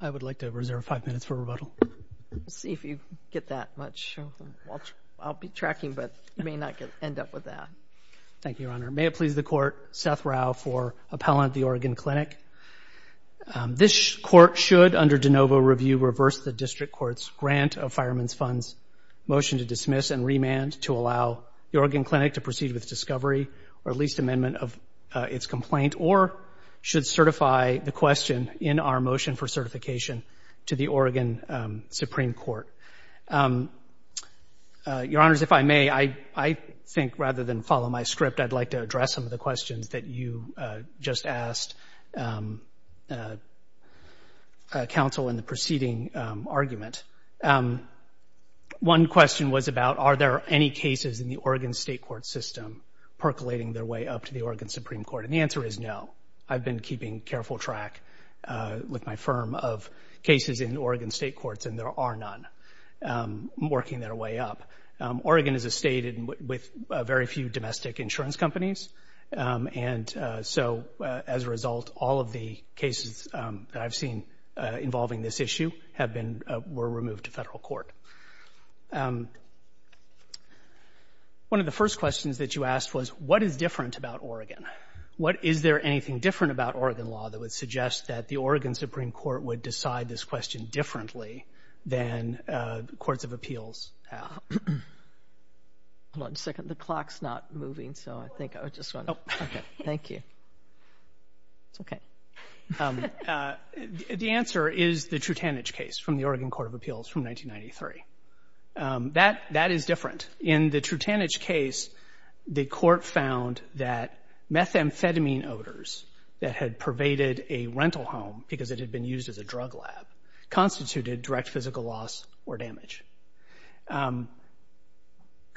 I would like to reserve five minutes for rebuttal. Let's see if you get that much. I'll be tracking, but you may not end up with that. Thank you, Your Honor. May it please the Court, Seth Rau for appellant at the Oregon Clinic. This Court should, under de novo review, reverse the District Court's grant of Fireman's Fund's motion to dismiss and remand to allow the Oregon Clinic to proceed with discovery or at least amendment of its complaint, or should certify the question in our motion for certification to the Oregon Supreme Court. Your Honors, if I may, I think rather than follow my script, I'd like to address some of the questions that you just asked counsel in the preceding argument. One question was about are there any cases in the Oregon State Court system percolating their way up to the Oregon Supreme Court, and the answer is no. I've been keeping careful track with my firm of cases in Oregon State Courts, and there are none working their way up. Oregon is a state with very few domestic insurance companies, and so as a result, all of the cases that I've seen involving this issue were removed to federal court. One of the first questions that you asked was what is different about Oregon? Is there anything different about Oregon law that would suggest that the Oregon Supreme Court would decide this question differently than courts of appeals? Hold on a second. The clock's not moving, so I think I would just want to... Oh. Thank you. It's okay. The answer is the Trutanich case from the Oregon Court of Appeals from 1993. That is different. In the Trutanich case, the court found that methamphetamine odors that had pervaded a rental home because it had been used as a drug lab constituted direct physical loss or damage.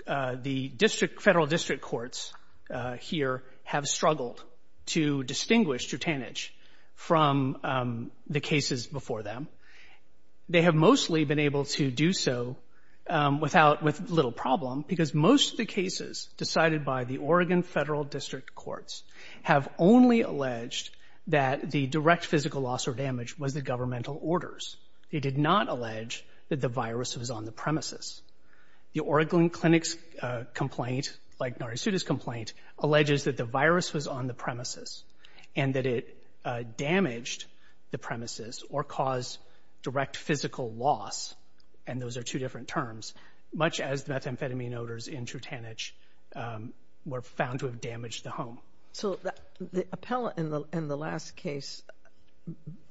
The federal district courts here have struggled to distinguish Trutanich from the cases before them. They have mostly been able to do so with little problem because most of the cases decided by the Oregon federal district courts have only alleged that the direct physical loss or damage was the governmental orders. They did not allege that the virus was on the premises. The Oregon Clinic's complaint, like Narasuta's complaint, alleges that the virus was on the premises and that it damaged the premises or caused direct physical loss, and those are two different terms, much as the methamphetamine odors in Trutanich were found to have damaged the home. So the appellant in the last case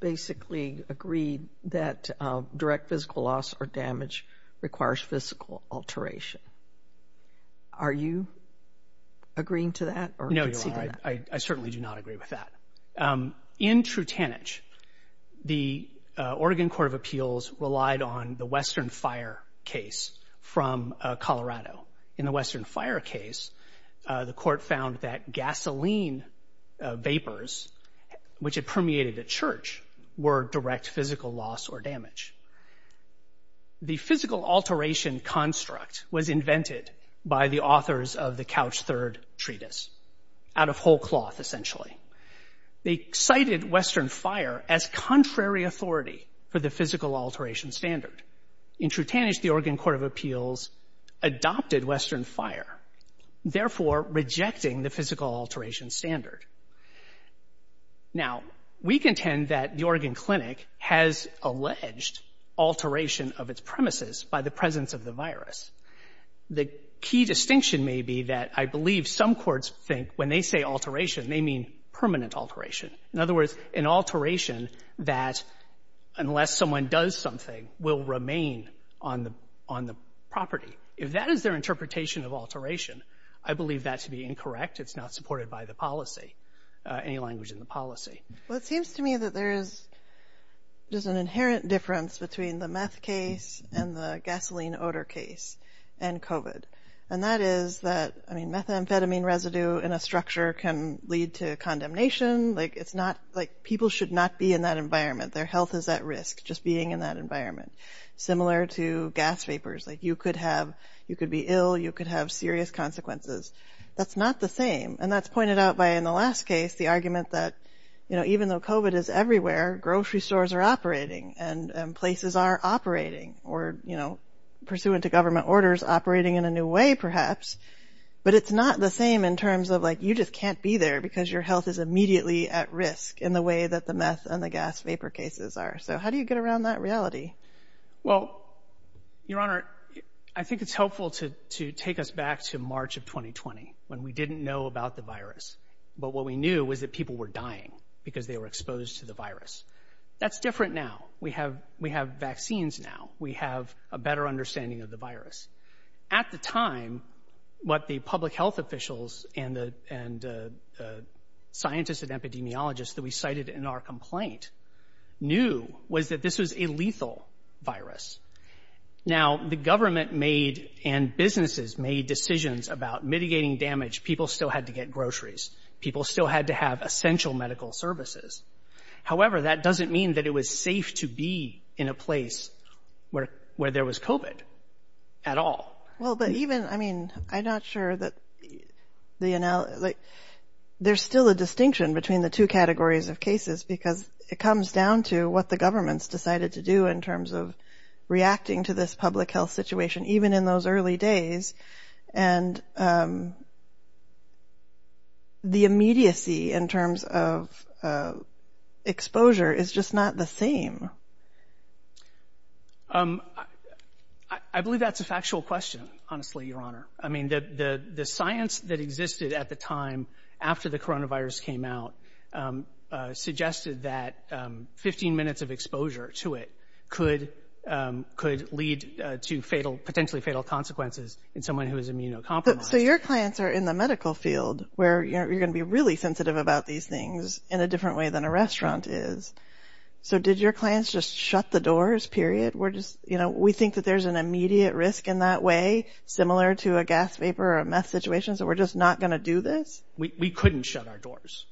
basically agreed that direct physical loss or damage requires physical alteration. Are you agreeing to that or conceding that? No, Your Honor, I certainly do not agree with that. In Trutanich, the Oregon Court of Appeals relied on the Western Fire case from Colorado. In the Western Fire case, the court found that gasoline vapors, which had permeated a church, were direct physical loss or damage. The physical alteration construct was invented by the authors of the Couch Third Treatise, out of whole cloth, essentially. They cited Western Fire as contrary authority for the physical alteration standard. In Trutanich, the Oregon Court of Appeals adopted Western Fire, therefore rejecting the physical alteration standard. Now, we contend that the Oregon Clinic has alleged alteration of its premises by the presence of the virus. The key distinction may be that I believe some courts think when they say alteration, they mean permanent alteration. In other words, an alteration that, unless someone does something, will remain on the property. If that is their interpretation of alteration, I believe that to be incorrect. It's not supported by the policy, any language in the policy. Well, it seems to me that there is just an inherent difference between the meth case and the gasoline odor case and COVID, and that is that, I mean, methamphetamine residue in a structure can lead to condemnation. Like, it's not, like, people should not be in that environment. Their health is at risk just being in that environment, similar to gas vapors. Like, you could have, you could be ill, you could have serious consequences. That's not the same, and that's pointed out by, in the last case, the argument that, you know, even though COVID is everywhere, grocery stores are operating, and places are operating, or, you know, pursuant to government orders, operating in a new way, perhaps. But it's not the same in terms of, like, you just can't be there because your health is immediately at risk in the way that the meth and the gas vapor cases are. So how do you get around that reality? Well, Your Honor, I think it's helpful to take us back to March of 2020 when we didn't know about the virus, but what we knew was that people were dying because they were exposed to the virus. That's different now. We have vaccines now. We have a better understanding of the virus. At the time, what the public health officials and the scientists and epidemiologists that we cited in our complaint knew was that this was a lethal virus. Now, the government made and businesses made decisions about mitigating damage. People still had to get groceries. People still had to have essential medical services. However, that doesn't mean that it was safe to be in a place where there was COVID at all. Well, but even, I mean, I'm not sure that the analogy, like, there's still a distinction between the two categories of cases because it comes down to what the government's decided to do in terms of reacting to this public health situation, even in those early days. And the immediacy in terms of exposure is just not the same. I believe that's a factual question, honestly, Your Honor. I mean, the science that existed at the time after the coronavirus came out suggested that 15 minutes of exposure to it could lead to fatal, potentially fatal consequences in someone who is immunocompromised. So your clients are in the medical field where you're going to be really sensitive about these things in a different way than a restaurant is. So did your clients just shut the doors, period? We're just, you know, we think that there's an immediate risk in that way, similar to a gas vapor or a meth situation, so we're just not going to do this? We couldn't shut our doors.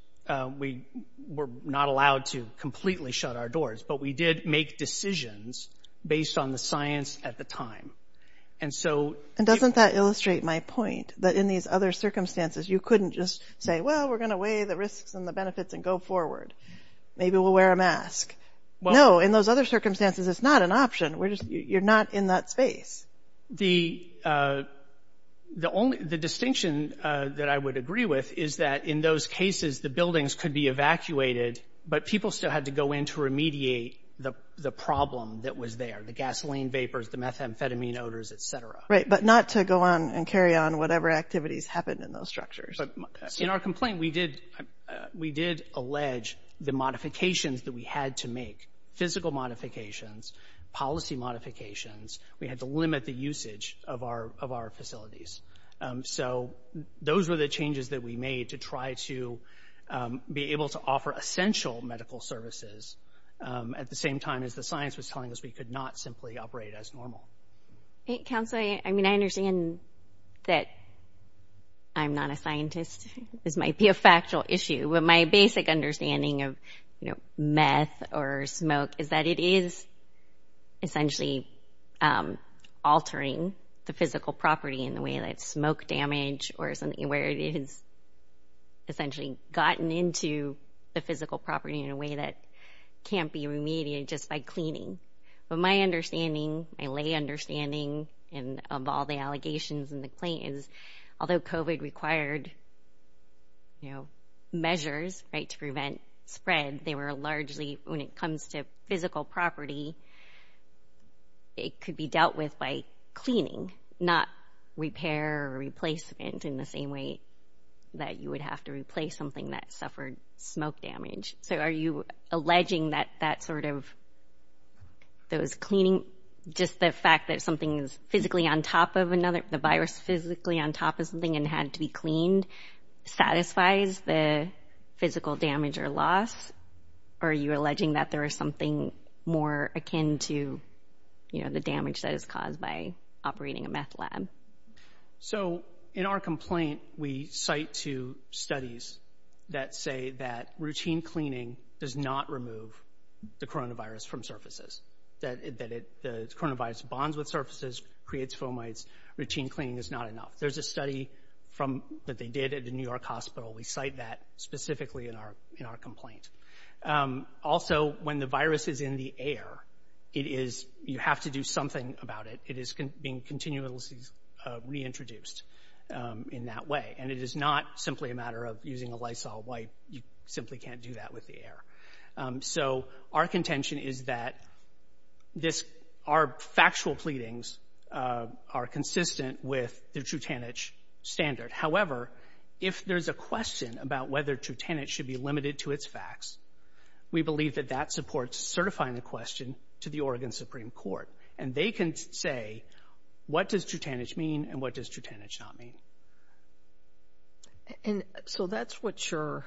We were not allowed to completely shut our doors. But we did make decisions based on the science at the time. And so— And doesn't that illustrate my point, that in these other circumstances, you couldn't just say, well, we're going to weigh the risks and the benefits and go forward. Maybe we'll wear a mask. No, in those other circumstances, it's not an option. You're not in that space. The distinction that I would agree with is that in those cases, the buildings could be evacuated, but people still had to go in to remediate the problem that was there, the gasoline vapors, the methamphetamine odors, et cetera. Right, but not to go on and carry on whatever activities happened in those structures. In our complaint, we did allege the modifications that we had to make, physical modifications, policy modifications. We had to limit the usage of our facilities. So those were the changes that we made to try to be able to offer essential medical services at the same time as the science was telling us we could not simply operate as normal. Counsel, I mean, I understand that I'm not a scientist. This might be a factual issue, but my basic understanding of, you know, meth or smoke is that it is essentially altering the physical property in the way that smoke damage or something where it is essentially gotten into the physical property in a way that can't be remedied just by cleaning. But my understanding, my lay understanding of all the allegations in the complaint is, although COVID required, you know, measures, right, to prevent spread, they were largely, when it comes to physical property, it could be dealt with by cleaning, not repair or replacement in the same way that you would have to replace something that suffered smoke damage. So are you alleging that that sort of those cleaning, just the fact that something is physically on top of another, the virus physically on top of something and had to be cleaned, satisfies the physical damage or loss, or are you alleging that there is something more akin to, you know, the damage that is caused by operating a meth lab? So in our complaint, we cite two studies that say that routine cleaning does not remove the coronavirus from surfaces, that the coronavirus bonds with surfaces, creates fomites. Routine cleaning is not enough. There's a study that they did at the New York hospital. We cite that specifically in our complaint. Also, when the virus is in the air, it is, you have to do something about it. It is being continuously reintroduced in that way, and it is not simply a matter of using a Lysol wipe. You simply can't do that with the air. So our contention is that this, our factual pleadings are consistent with the Trutanich standard. However, if there's a question about whether Trutanich should be limited to its facts, we believe that that supports certifying the question to the Oregon Supreme Court, and they can say, what does Trutanich mean and what does Trutanich not mean? And so that's what your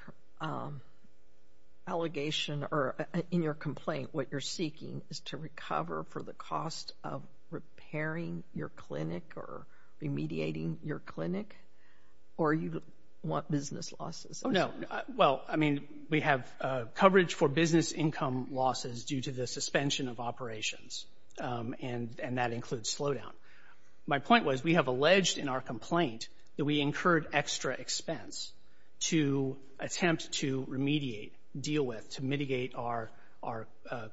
allegation or in your complaint, what you're seeking is to recover for the cost of repairing your clinic or remediating your clinic, or you want business losses? Oh, no. Well, I mean, we have coverage for business income losses due to the suspension of operations, and that includes slowdown. My point was we have alleged in our complaint that we incurred extra expense to attempt to remediate, deal with, to mitigate our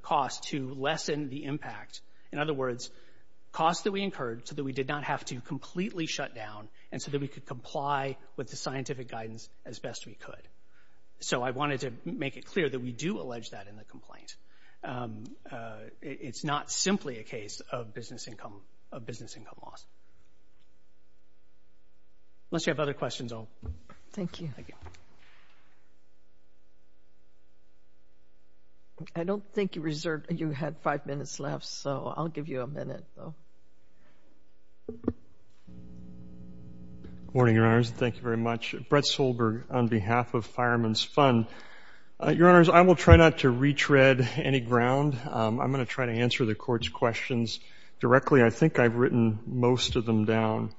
cost, to lessen the impact. In other words, costs that we incurred so that we did not have to completely shut down and so that we could comply with the scientific guidance as best we could. So I wanted to make it clear that we do allege that in the complaint. It's not simply a case of business income loss. Unless you have other questions, I'll... Thank you. Thank you. I don't think you had five minutes left, so I'll give you a minute. Good morning, Your Honors. Thank you very much. Brett Solberg on behalf of Fireman's Fund. Your Honors, I will try not to retread any ground. I'm going to try to answer the Court's questions directly. I think I've written most of them down.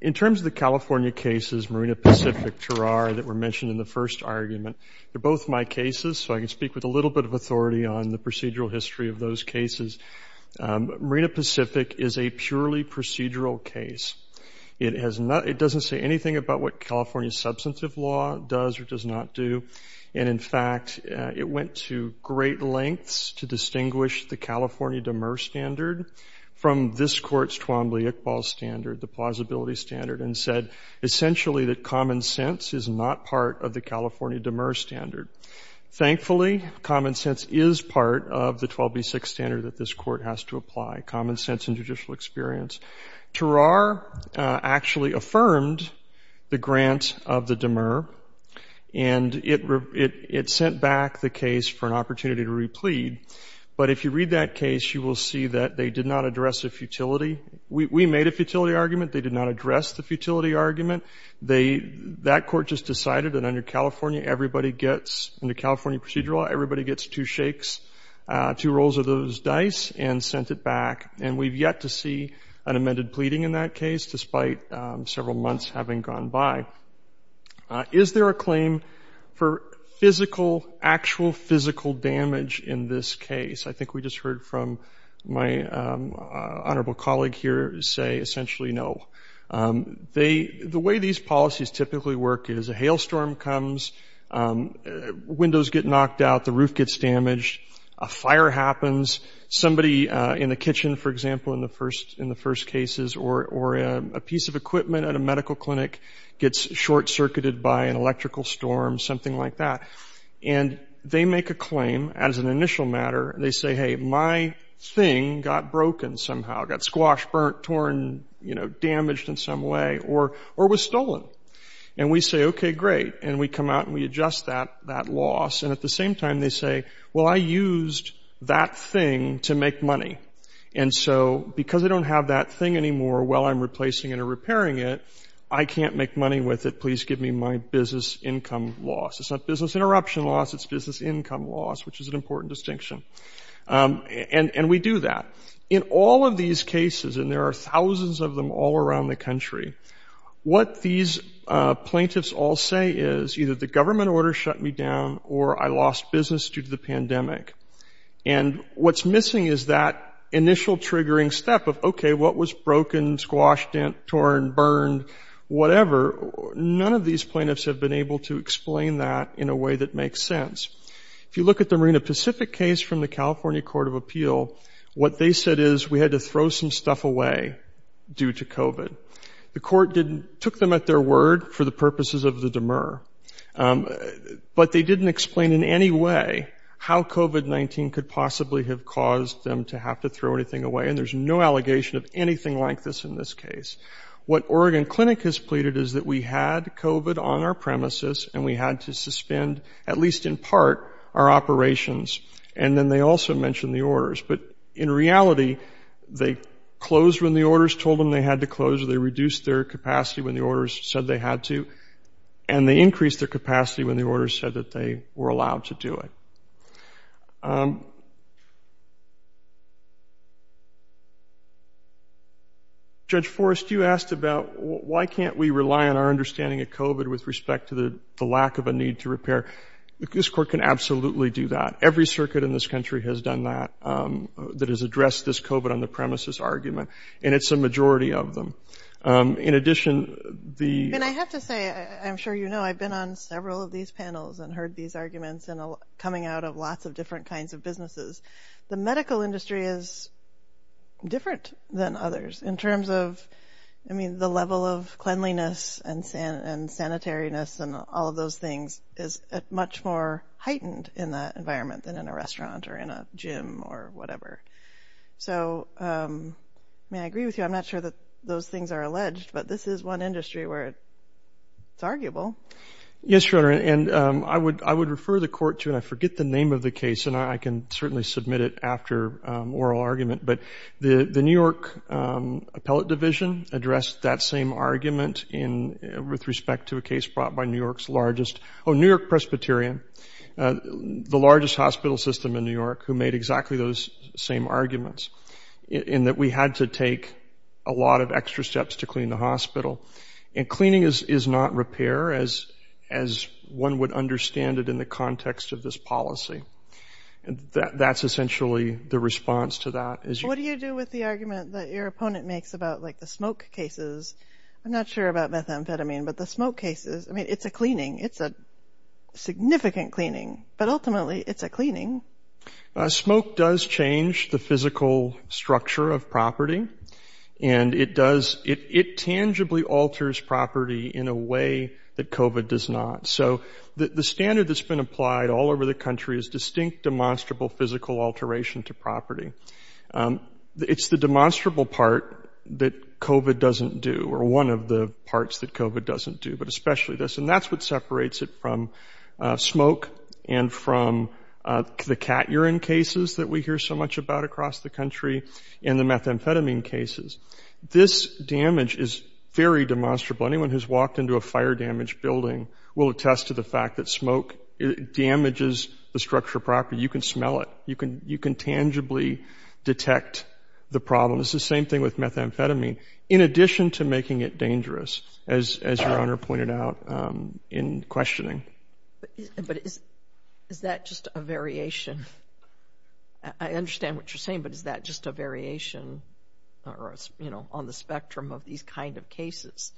In terms of the California cases, Marina Pacific, Terrar, that were mentioned in the first argument, they're both my cases, so I can speak with a little bit of authority on the procedural history of those cases. Marina Pacific is a purely procedural case. It doesn't say anything about what California's substantive law does or does not do. And, in fact, it went to great lengths to distinguish the California demur standard from this Court's Twombly-Iqbal standard, the plausibility standard, and said essentially that common sense is not part of the California demur standard. Thankfully, common sense is part of the 12b6 standard that this Court has to apply, common sense and judicial experience. Terrar actually affirmed the grant of the demur, and it sent back the case for an opportunity to replead. But if you read that case, you will see that they did not address a futility. We made a futility argument. They did not address the futility argument. That Court just decided that under California, everybody gets, under California procedural law, everybody gets two shakes, two rolls of those dice, and sent it back. And we've yet to see an amended pleading in that case, despite several months having gone by. Is there a claim for physical, actual physical damage in this case? I think we just heard from my honorable colleague here say essentially no. The way these policies typically work is a hailstorm comes, windows get knocked out, the roof gets damaged, a fire happens, somebody in the kitchen, for example, in the first cases, or a piece of equipment at a medical clinic gets short-circuited by an electrical storm, something like that. And they make a claim as an initial matter. They say, hey, my thing got broken somehow, got squashed, burnt, torn, you know, damaged in some way, or was stolen. And we say, okay, great. And we come out and we adjust that loss. And at the same time, they say, well, I used that thing to make money. And so because I don't have that thing anymore while I'm replacing it or repairing it, I can't make money with it. Please give me my business income loss. It's not business interruption loss. It's business income loss, which is an important distinction. And we do that. In all of these cases, and there are thousands of them all around the country, what these plaintiffs all say is either the government order shut me down or I lost business due to the pandemic. And what's missing is that initial triggering step of, okay, what was broken, squashed, torn, burned, whatever. None of these plaintiffs have been able to explain that in a way that makes sense. If you look at the Marina Pacific case from the California Court of Appeal, what they said is we had to throw some stuff away due to COVID. The court took them at their word for the purposes of the demur. But they didn't explain in any way how COVID-19 could possibly have caused them to have to throw anything away. And there's no allegation of anything like this in this case. What Oregon Clinic has pleaded is that we had COVID on our premises and we had to suspend, at least in part, our operations. And then they also mentioned the orders. But in reality, they closed when the orders told them they had to close or they reduced their capacity when the orders said they had to. And they increased their capacity when the orders said that they were allowed to do it. Judge Forrest, you asked about why can't we rely on our understanding of COVID with respect to the lack of a need to repair. This court can absolutely do that. Every circuit in this country has done that, that has addressed this COVID on the premises argument. And it's a majority of them. In addition, the- I have to say, I'm sure you know, I've been on several of these panels and heard these arguments coming out of lots of different kinds of businesses. The medical industry is different than others in terms of, I mean, the level of cleanliness and sanitariness and all of those things is much more heightened in that environment than in a restaurant or in a gym or whatever. So, I mean, I agree with you. I'm not sure that those things are alleged, but this is one industry where it's arguable. Yes, Your Honor, and I would refer the court to, and I forget the name of the case, and I can certainly submit it after oral argument, but the New York Appellate Division addressed that same argument with respect to a case brought by New York's largest- oh, New York Presbyterian, the largest hospital system in New York, who made exactly those same arguments, in that we had to take a lot of extra steps to clean the hospital. And cleaning is not repair as one would understand it in the context of this policy. That's essentially the response to that. What do you do with the argument that your opponent makes about, like, the smoke cases? I'm not sure about methamphetamine, but the smoke cases, I mean, it's a cleaning. It's a significant cleaning, but ultimately it's a cleaning. Smoke does change the physical structure of property, and it tangibly alters property in a way that COVID does not. So the standard that's been applied all over the country is distinct demonstrable physical alteration to property. It's the demonstrable part that COVID doesn't do, or one of the parts that COVID doesn't do, but especially this, and that's what separates it from smoke and from the cat urine cases that we hear so much about across the country and the methamphetamine cases. This damage is very demonstrable. Anyone who's walked into a fire-damaged building will attest to the fact that smoke damages the structure of property. You can smell it. You can tangibly detect the problem. It's the same thing with methamphetamine. In addition to making it dangerous, as Your Honor pointed out in questioning. But is that just a variation? I understand what you're saying, but is that just a variation on the spectrum of these kind of cases,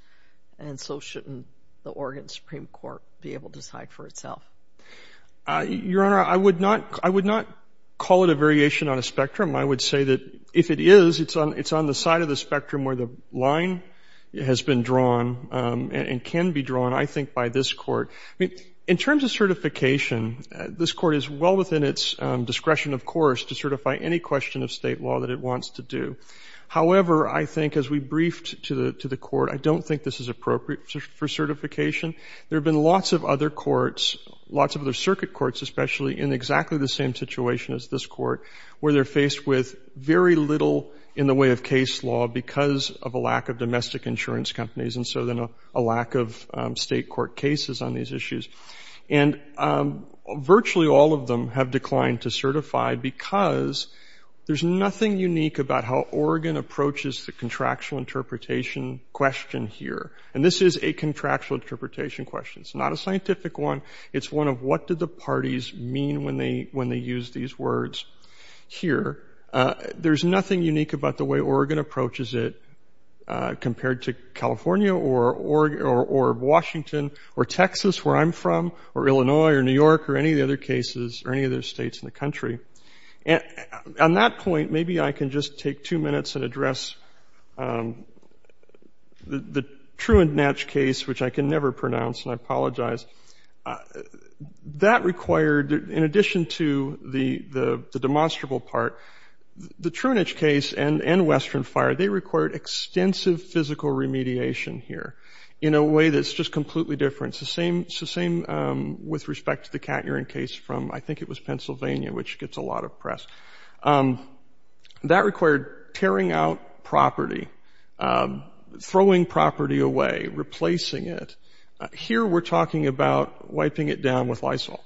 and so shouldn't the Oregon Supreme Court be able to decide for itself? Your Honor, I would not call it a variation on a spectrum. I would say that if it is, it's on the side of the spectrum where the line has been drawn and can be drawn, I think, by this Court. In terms of certification, this Court is well within its discretion, of course, to certify any question of state law that it wants to do. However, I think as we briefed to the Court, I don't think this is appropriate for certification. There have been lots of other courts, lots of other circuit courts, especially in exactly the same situation as this Court, where they're faced with very little in the way of case law because of a lack of domestic insurance companies and so then a lack of state court cases on these issues. And virtually all of them have declined to certify because there's nothing unique about how Oregon approaches the contractual interpretation question here. And this is a contractual interpretation question. It's not a scientific one. It's one of what do the parties mean when they use these words here. There's nothing unique about the way Oregon approaches it compared to California or Washington or Texas, where I'm from, or Illinois or New York or any of the other cases or any of those states in the country. And on that point, maybe I can just take two minutes and address the true and match case, which I can never pronounce, and I apologize. That required, in addition to the demonstrable part, the Truenich case and Western Fire, they required extensive physical remediation here in a way that's just completely different. It's the same with respect to the cat urine case from, I think it was Pennsylvania, which gets a lot of press. That required tearing out property, throwing property away, replacing it. Here we're talking about wiping it down with Lysol.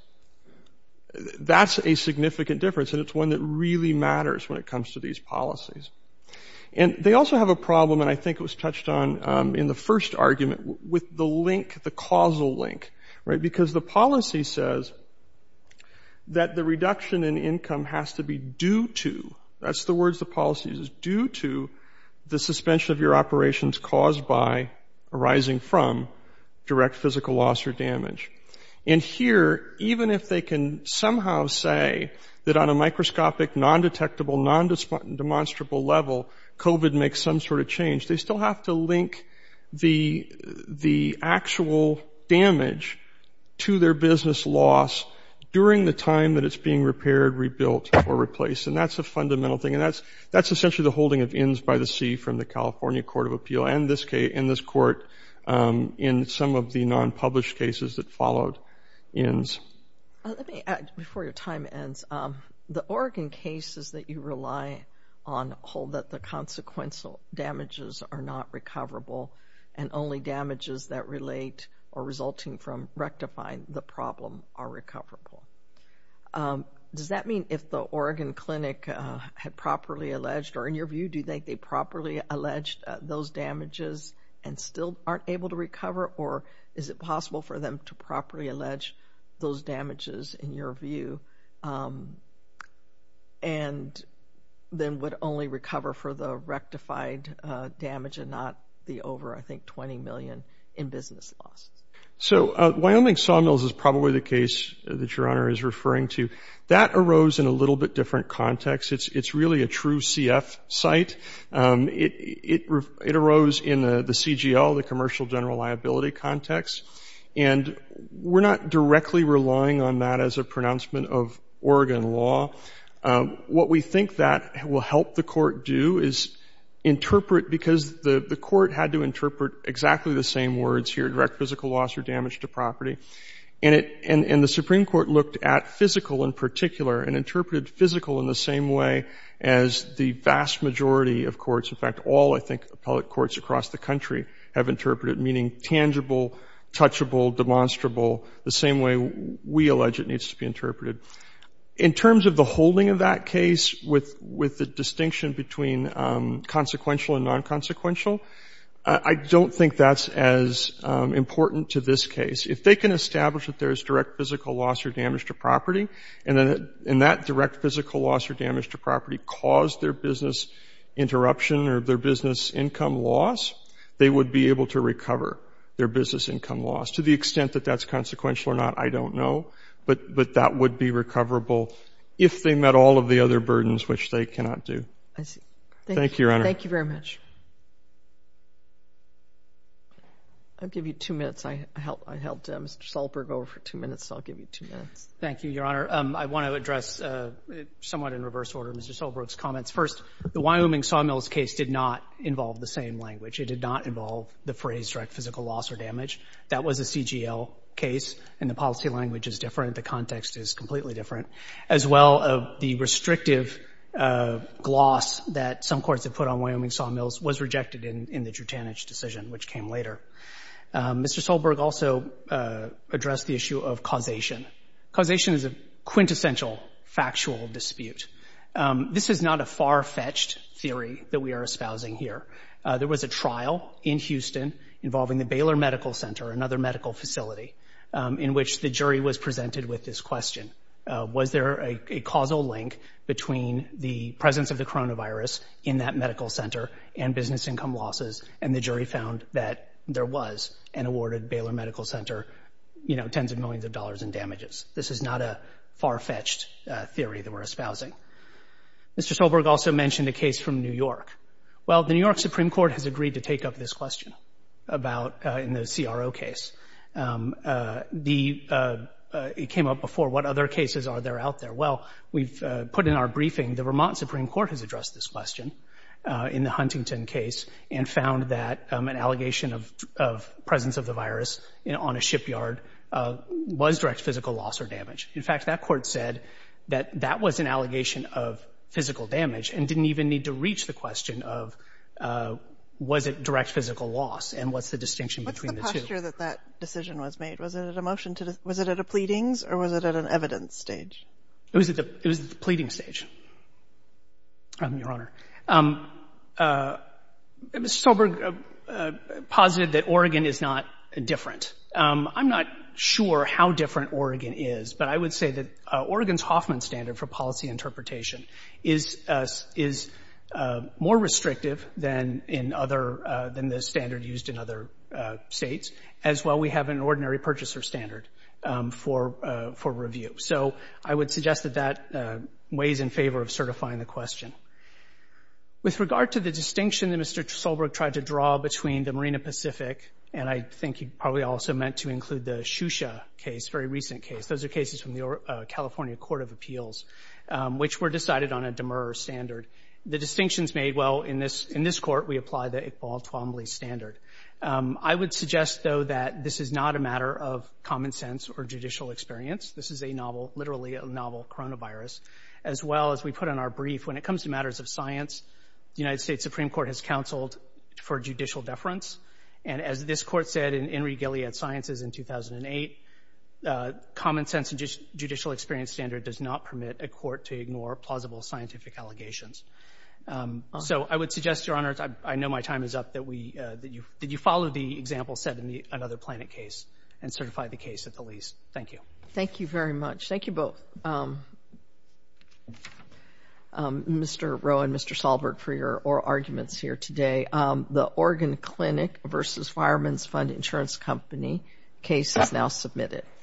That's a significant difference, and it's one that really matters when it comes to these policies. And they also have a problem, and I think it was touched on in the first argument, with the link, the causal link, right? Because the policy says that the reduction in income has to be due to – that's the words the policy uses – the suspension of your operations caused by, arising from, direct physical loss or damage. And here, even if they can somehow say that on a microscopic, non-detectable, non-demonstrable level, COVID makes some sort of change, they still have to link the actual damage to their business loss during the time that it's being repaired, rebuilt, or replaced, and that's a fundamental thing. And that's essentially the holding of inns by the sea from the California Court of Appeal and this court in some of the non-published cases that followed inns. Let me add, before your time ends, the Oregon cases that you rely on hold that the consequential damages are not recoverable and only damages that relate or resulting from rectifying the problem are recoverable. Does that mean if the Oregon clinic had properly alleged, or in your view, do you think they properly alleged those damages and still aren't able to recover? Or is it possible for them to properly allege those damages in your view and then would only recover for the rectified damage and not the over, I think, $20 million in business loss? So Wyoming sawmills is probably the case that your Honor is referring to. That arose in a little bit different context. It's really a true CF site. It arose in the CGL, the commercial general liability context, and we're not directly relying on that as a pronouncement of Oregon law. What we think that will help the court do is interpret, because the court had to interpret exactly the same words here, direct physical loss or damage to property, and the Supreme Court looked at physical in particular and interpreted physical in the same way as the vast majority of courts. In fact, all, I think, appellate courts across the country have interpreted meaning tangible, touchable, demonstrable, the same way we allege it needs to be interpreted. In terms of the holding of that case, with the distinction between consequential and non-consequential, I don't think that's as important to this case. If they can establish that there is direct physical loss or damage to property and that direct physical loss or damage to property caused their business interruption or their business income loss, they would be able to recover their business income loss. To the extent that that's consequential or not, I don't know, but that would be recoverable if they met all of the other burdens, which they cannot do. Thank you, Your Honor. Thank you very much. I'll give you two minutes. I helped Mr. Solberg over for two minutes, so I'll give you two minutes. Thank you, Your Honor. I want to address somewhat in reverse order Mr. Solberg's comments. First, the Wyoming sawmills case did not involve the same language. It did not involve the phrase direct physical loss or damage. That was a CGL case, and the policy language is different. The context is completely different. As well, the restrictive gloss that some courts have put on Wyoming sawmills was rejected in the Drutanich decision, which came later. Mr. Solberg also addressed the issue of causation. Causation is a quintessential factual dispute. This is not a far-fetched theory that we are espousing here. There was a trial in Houston involving the Baylor Medical Center, another medical facility, in which the jury was presented with this question. Was there a causal link between the presence of the coronavirus in that medical center and business income losses? And the jury found that there was, and awarded Baylor Medical Center, you know, tens of millions of dollars in damages. This is not a far-fetched theory that we're espousing. Mr. Solberg also mentioned a case from New York. Well, the New York Supreme Court has agreed to take up this question in the CRO case. It came up before. What other cases are there out there? Well, we've put in our briefing the Vermont Supreme Court has addressed this question in the Huntington case and found that an allegation of presence of the virus on a shipyard was direct physical loss or damage. In fact, that court said that that was an allegation of physical damage and didn't even need to reach the question of was it direct physical loss and what's the distinction between the two. What's the posture that that decision was made? Was it at a pleading's or was it at an evidence stage? It was at the pleading stage, Your Honor. Mr. Solberg posited that Oregon is not different. I'm not sure how different Oregon is, but I would say that Oregon's Hoffman standard for policy interpretation is more restrictive than the standard used in other states, as well we have an ordinary purchaser standard for review. So I would suggest that that weighs in favor of certifying the question. With regard to the distinction that Mr. Solberg tried to draw between the Marina Pacific and I think he probably also meant to include the Shusha case, very recent case, those are cases from the California Court of Appeals, which were decided on a demur standard. The distinctions made, well, in this court we apply the Iqbal Twombly standard. I would suggest, though, that this is not a matter of common sense or judicial experience. This is a novel, literally a novel coronavirus. As well, as we put in our brief, when it comes to matters of science, the United States Supreme Court has counseled for judicial deference, and as this court said in Henry Gilead Sciences in 2008, common sense and judicial experience standard does not permit a court to ignore plausible scientific allegations. So I would suggest, Your Honors, I know my time is up, that you follow the example set in the Another Planet case and certify the case at the least. Thank you. Thank you very much. Thank you both, Mr. Rowe and Mr. Solberg, for your oral arguments here today. The Oregon Clinic v. Fireman's Fund Insurance Company case is now submitted.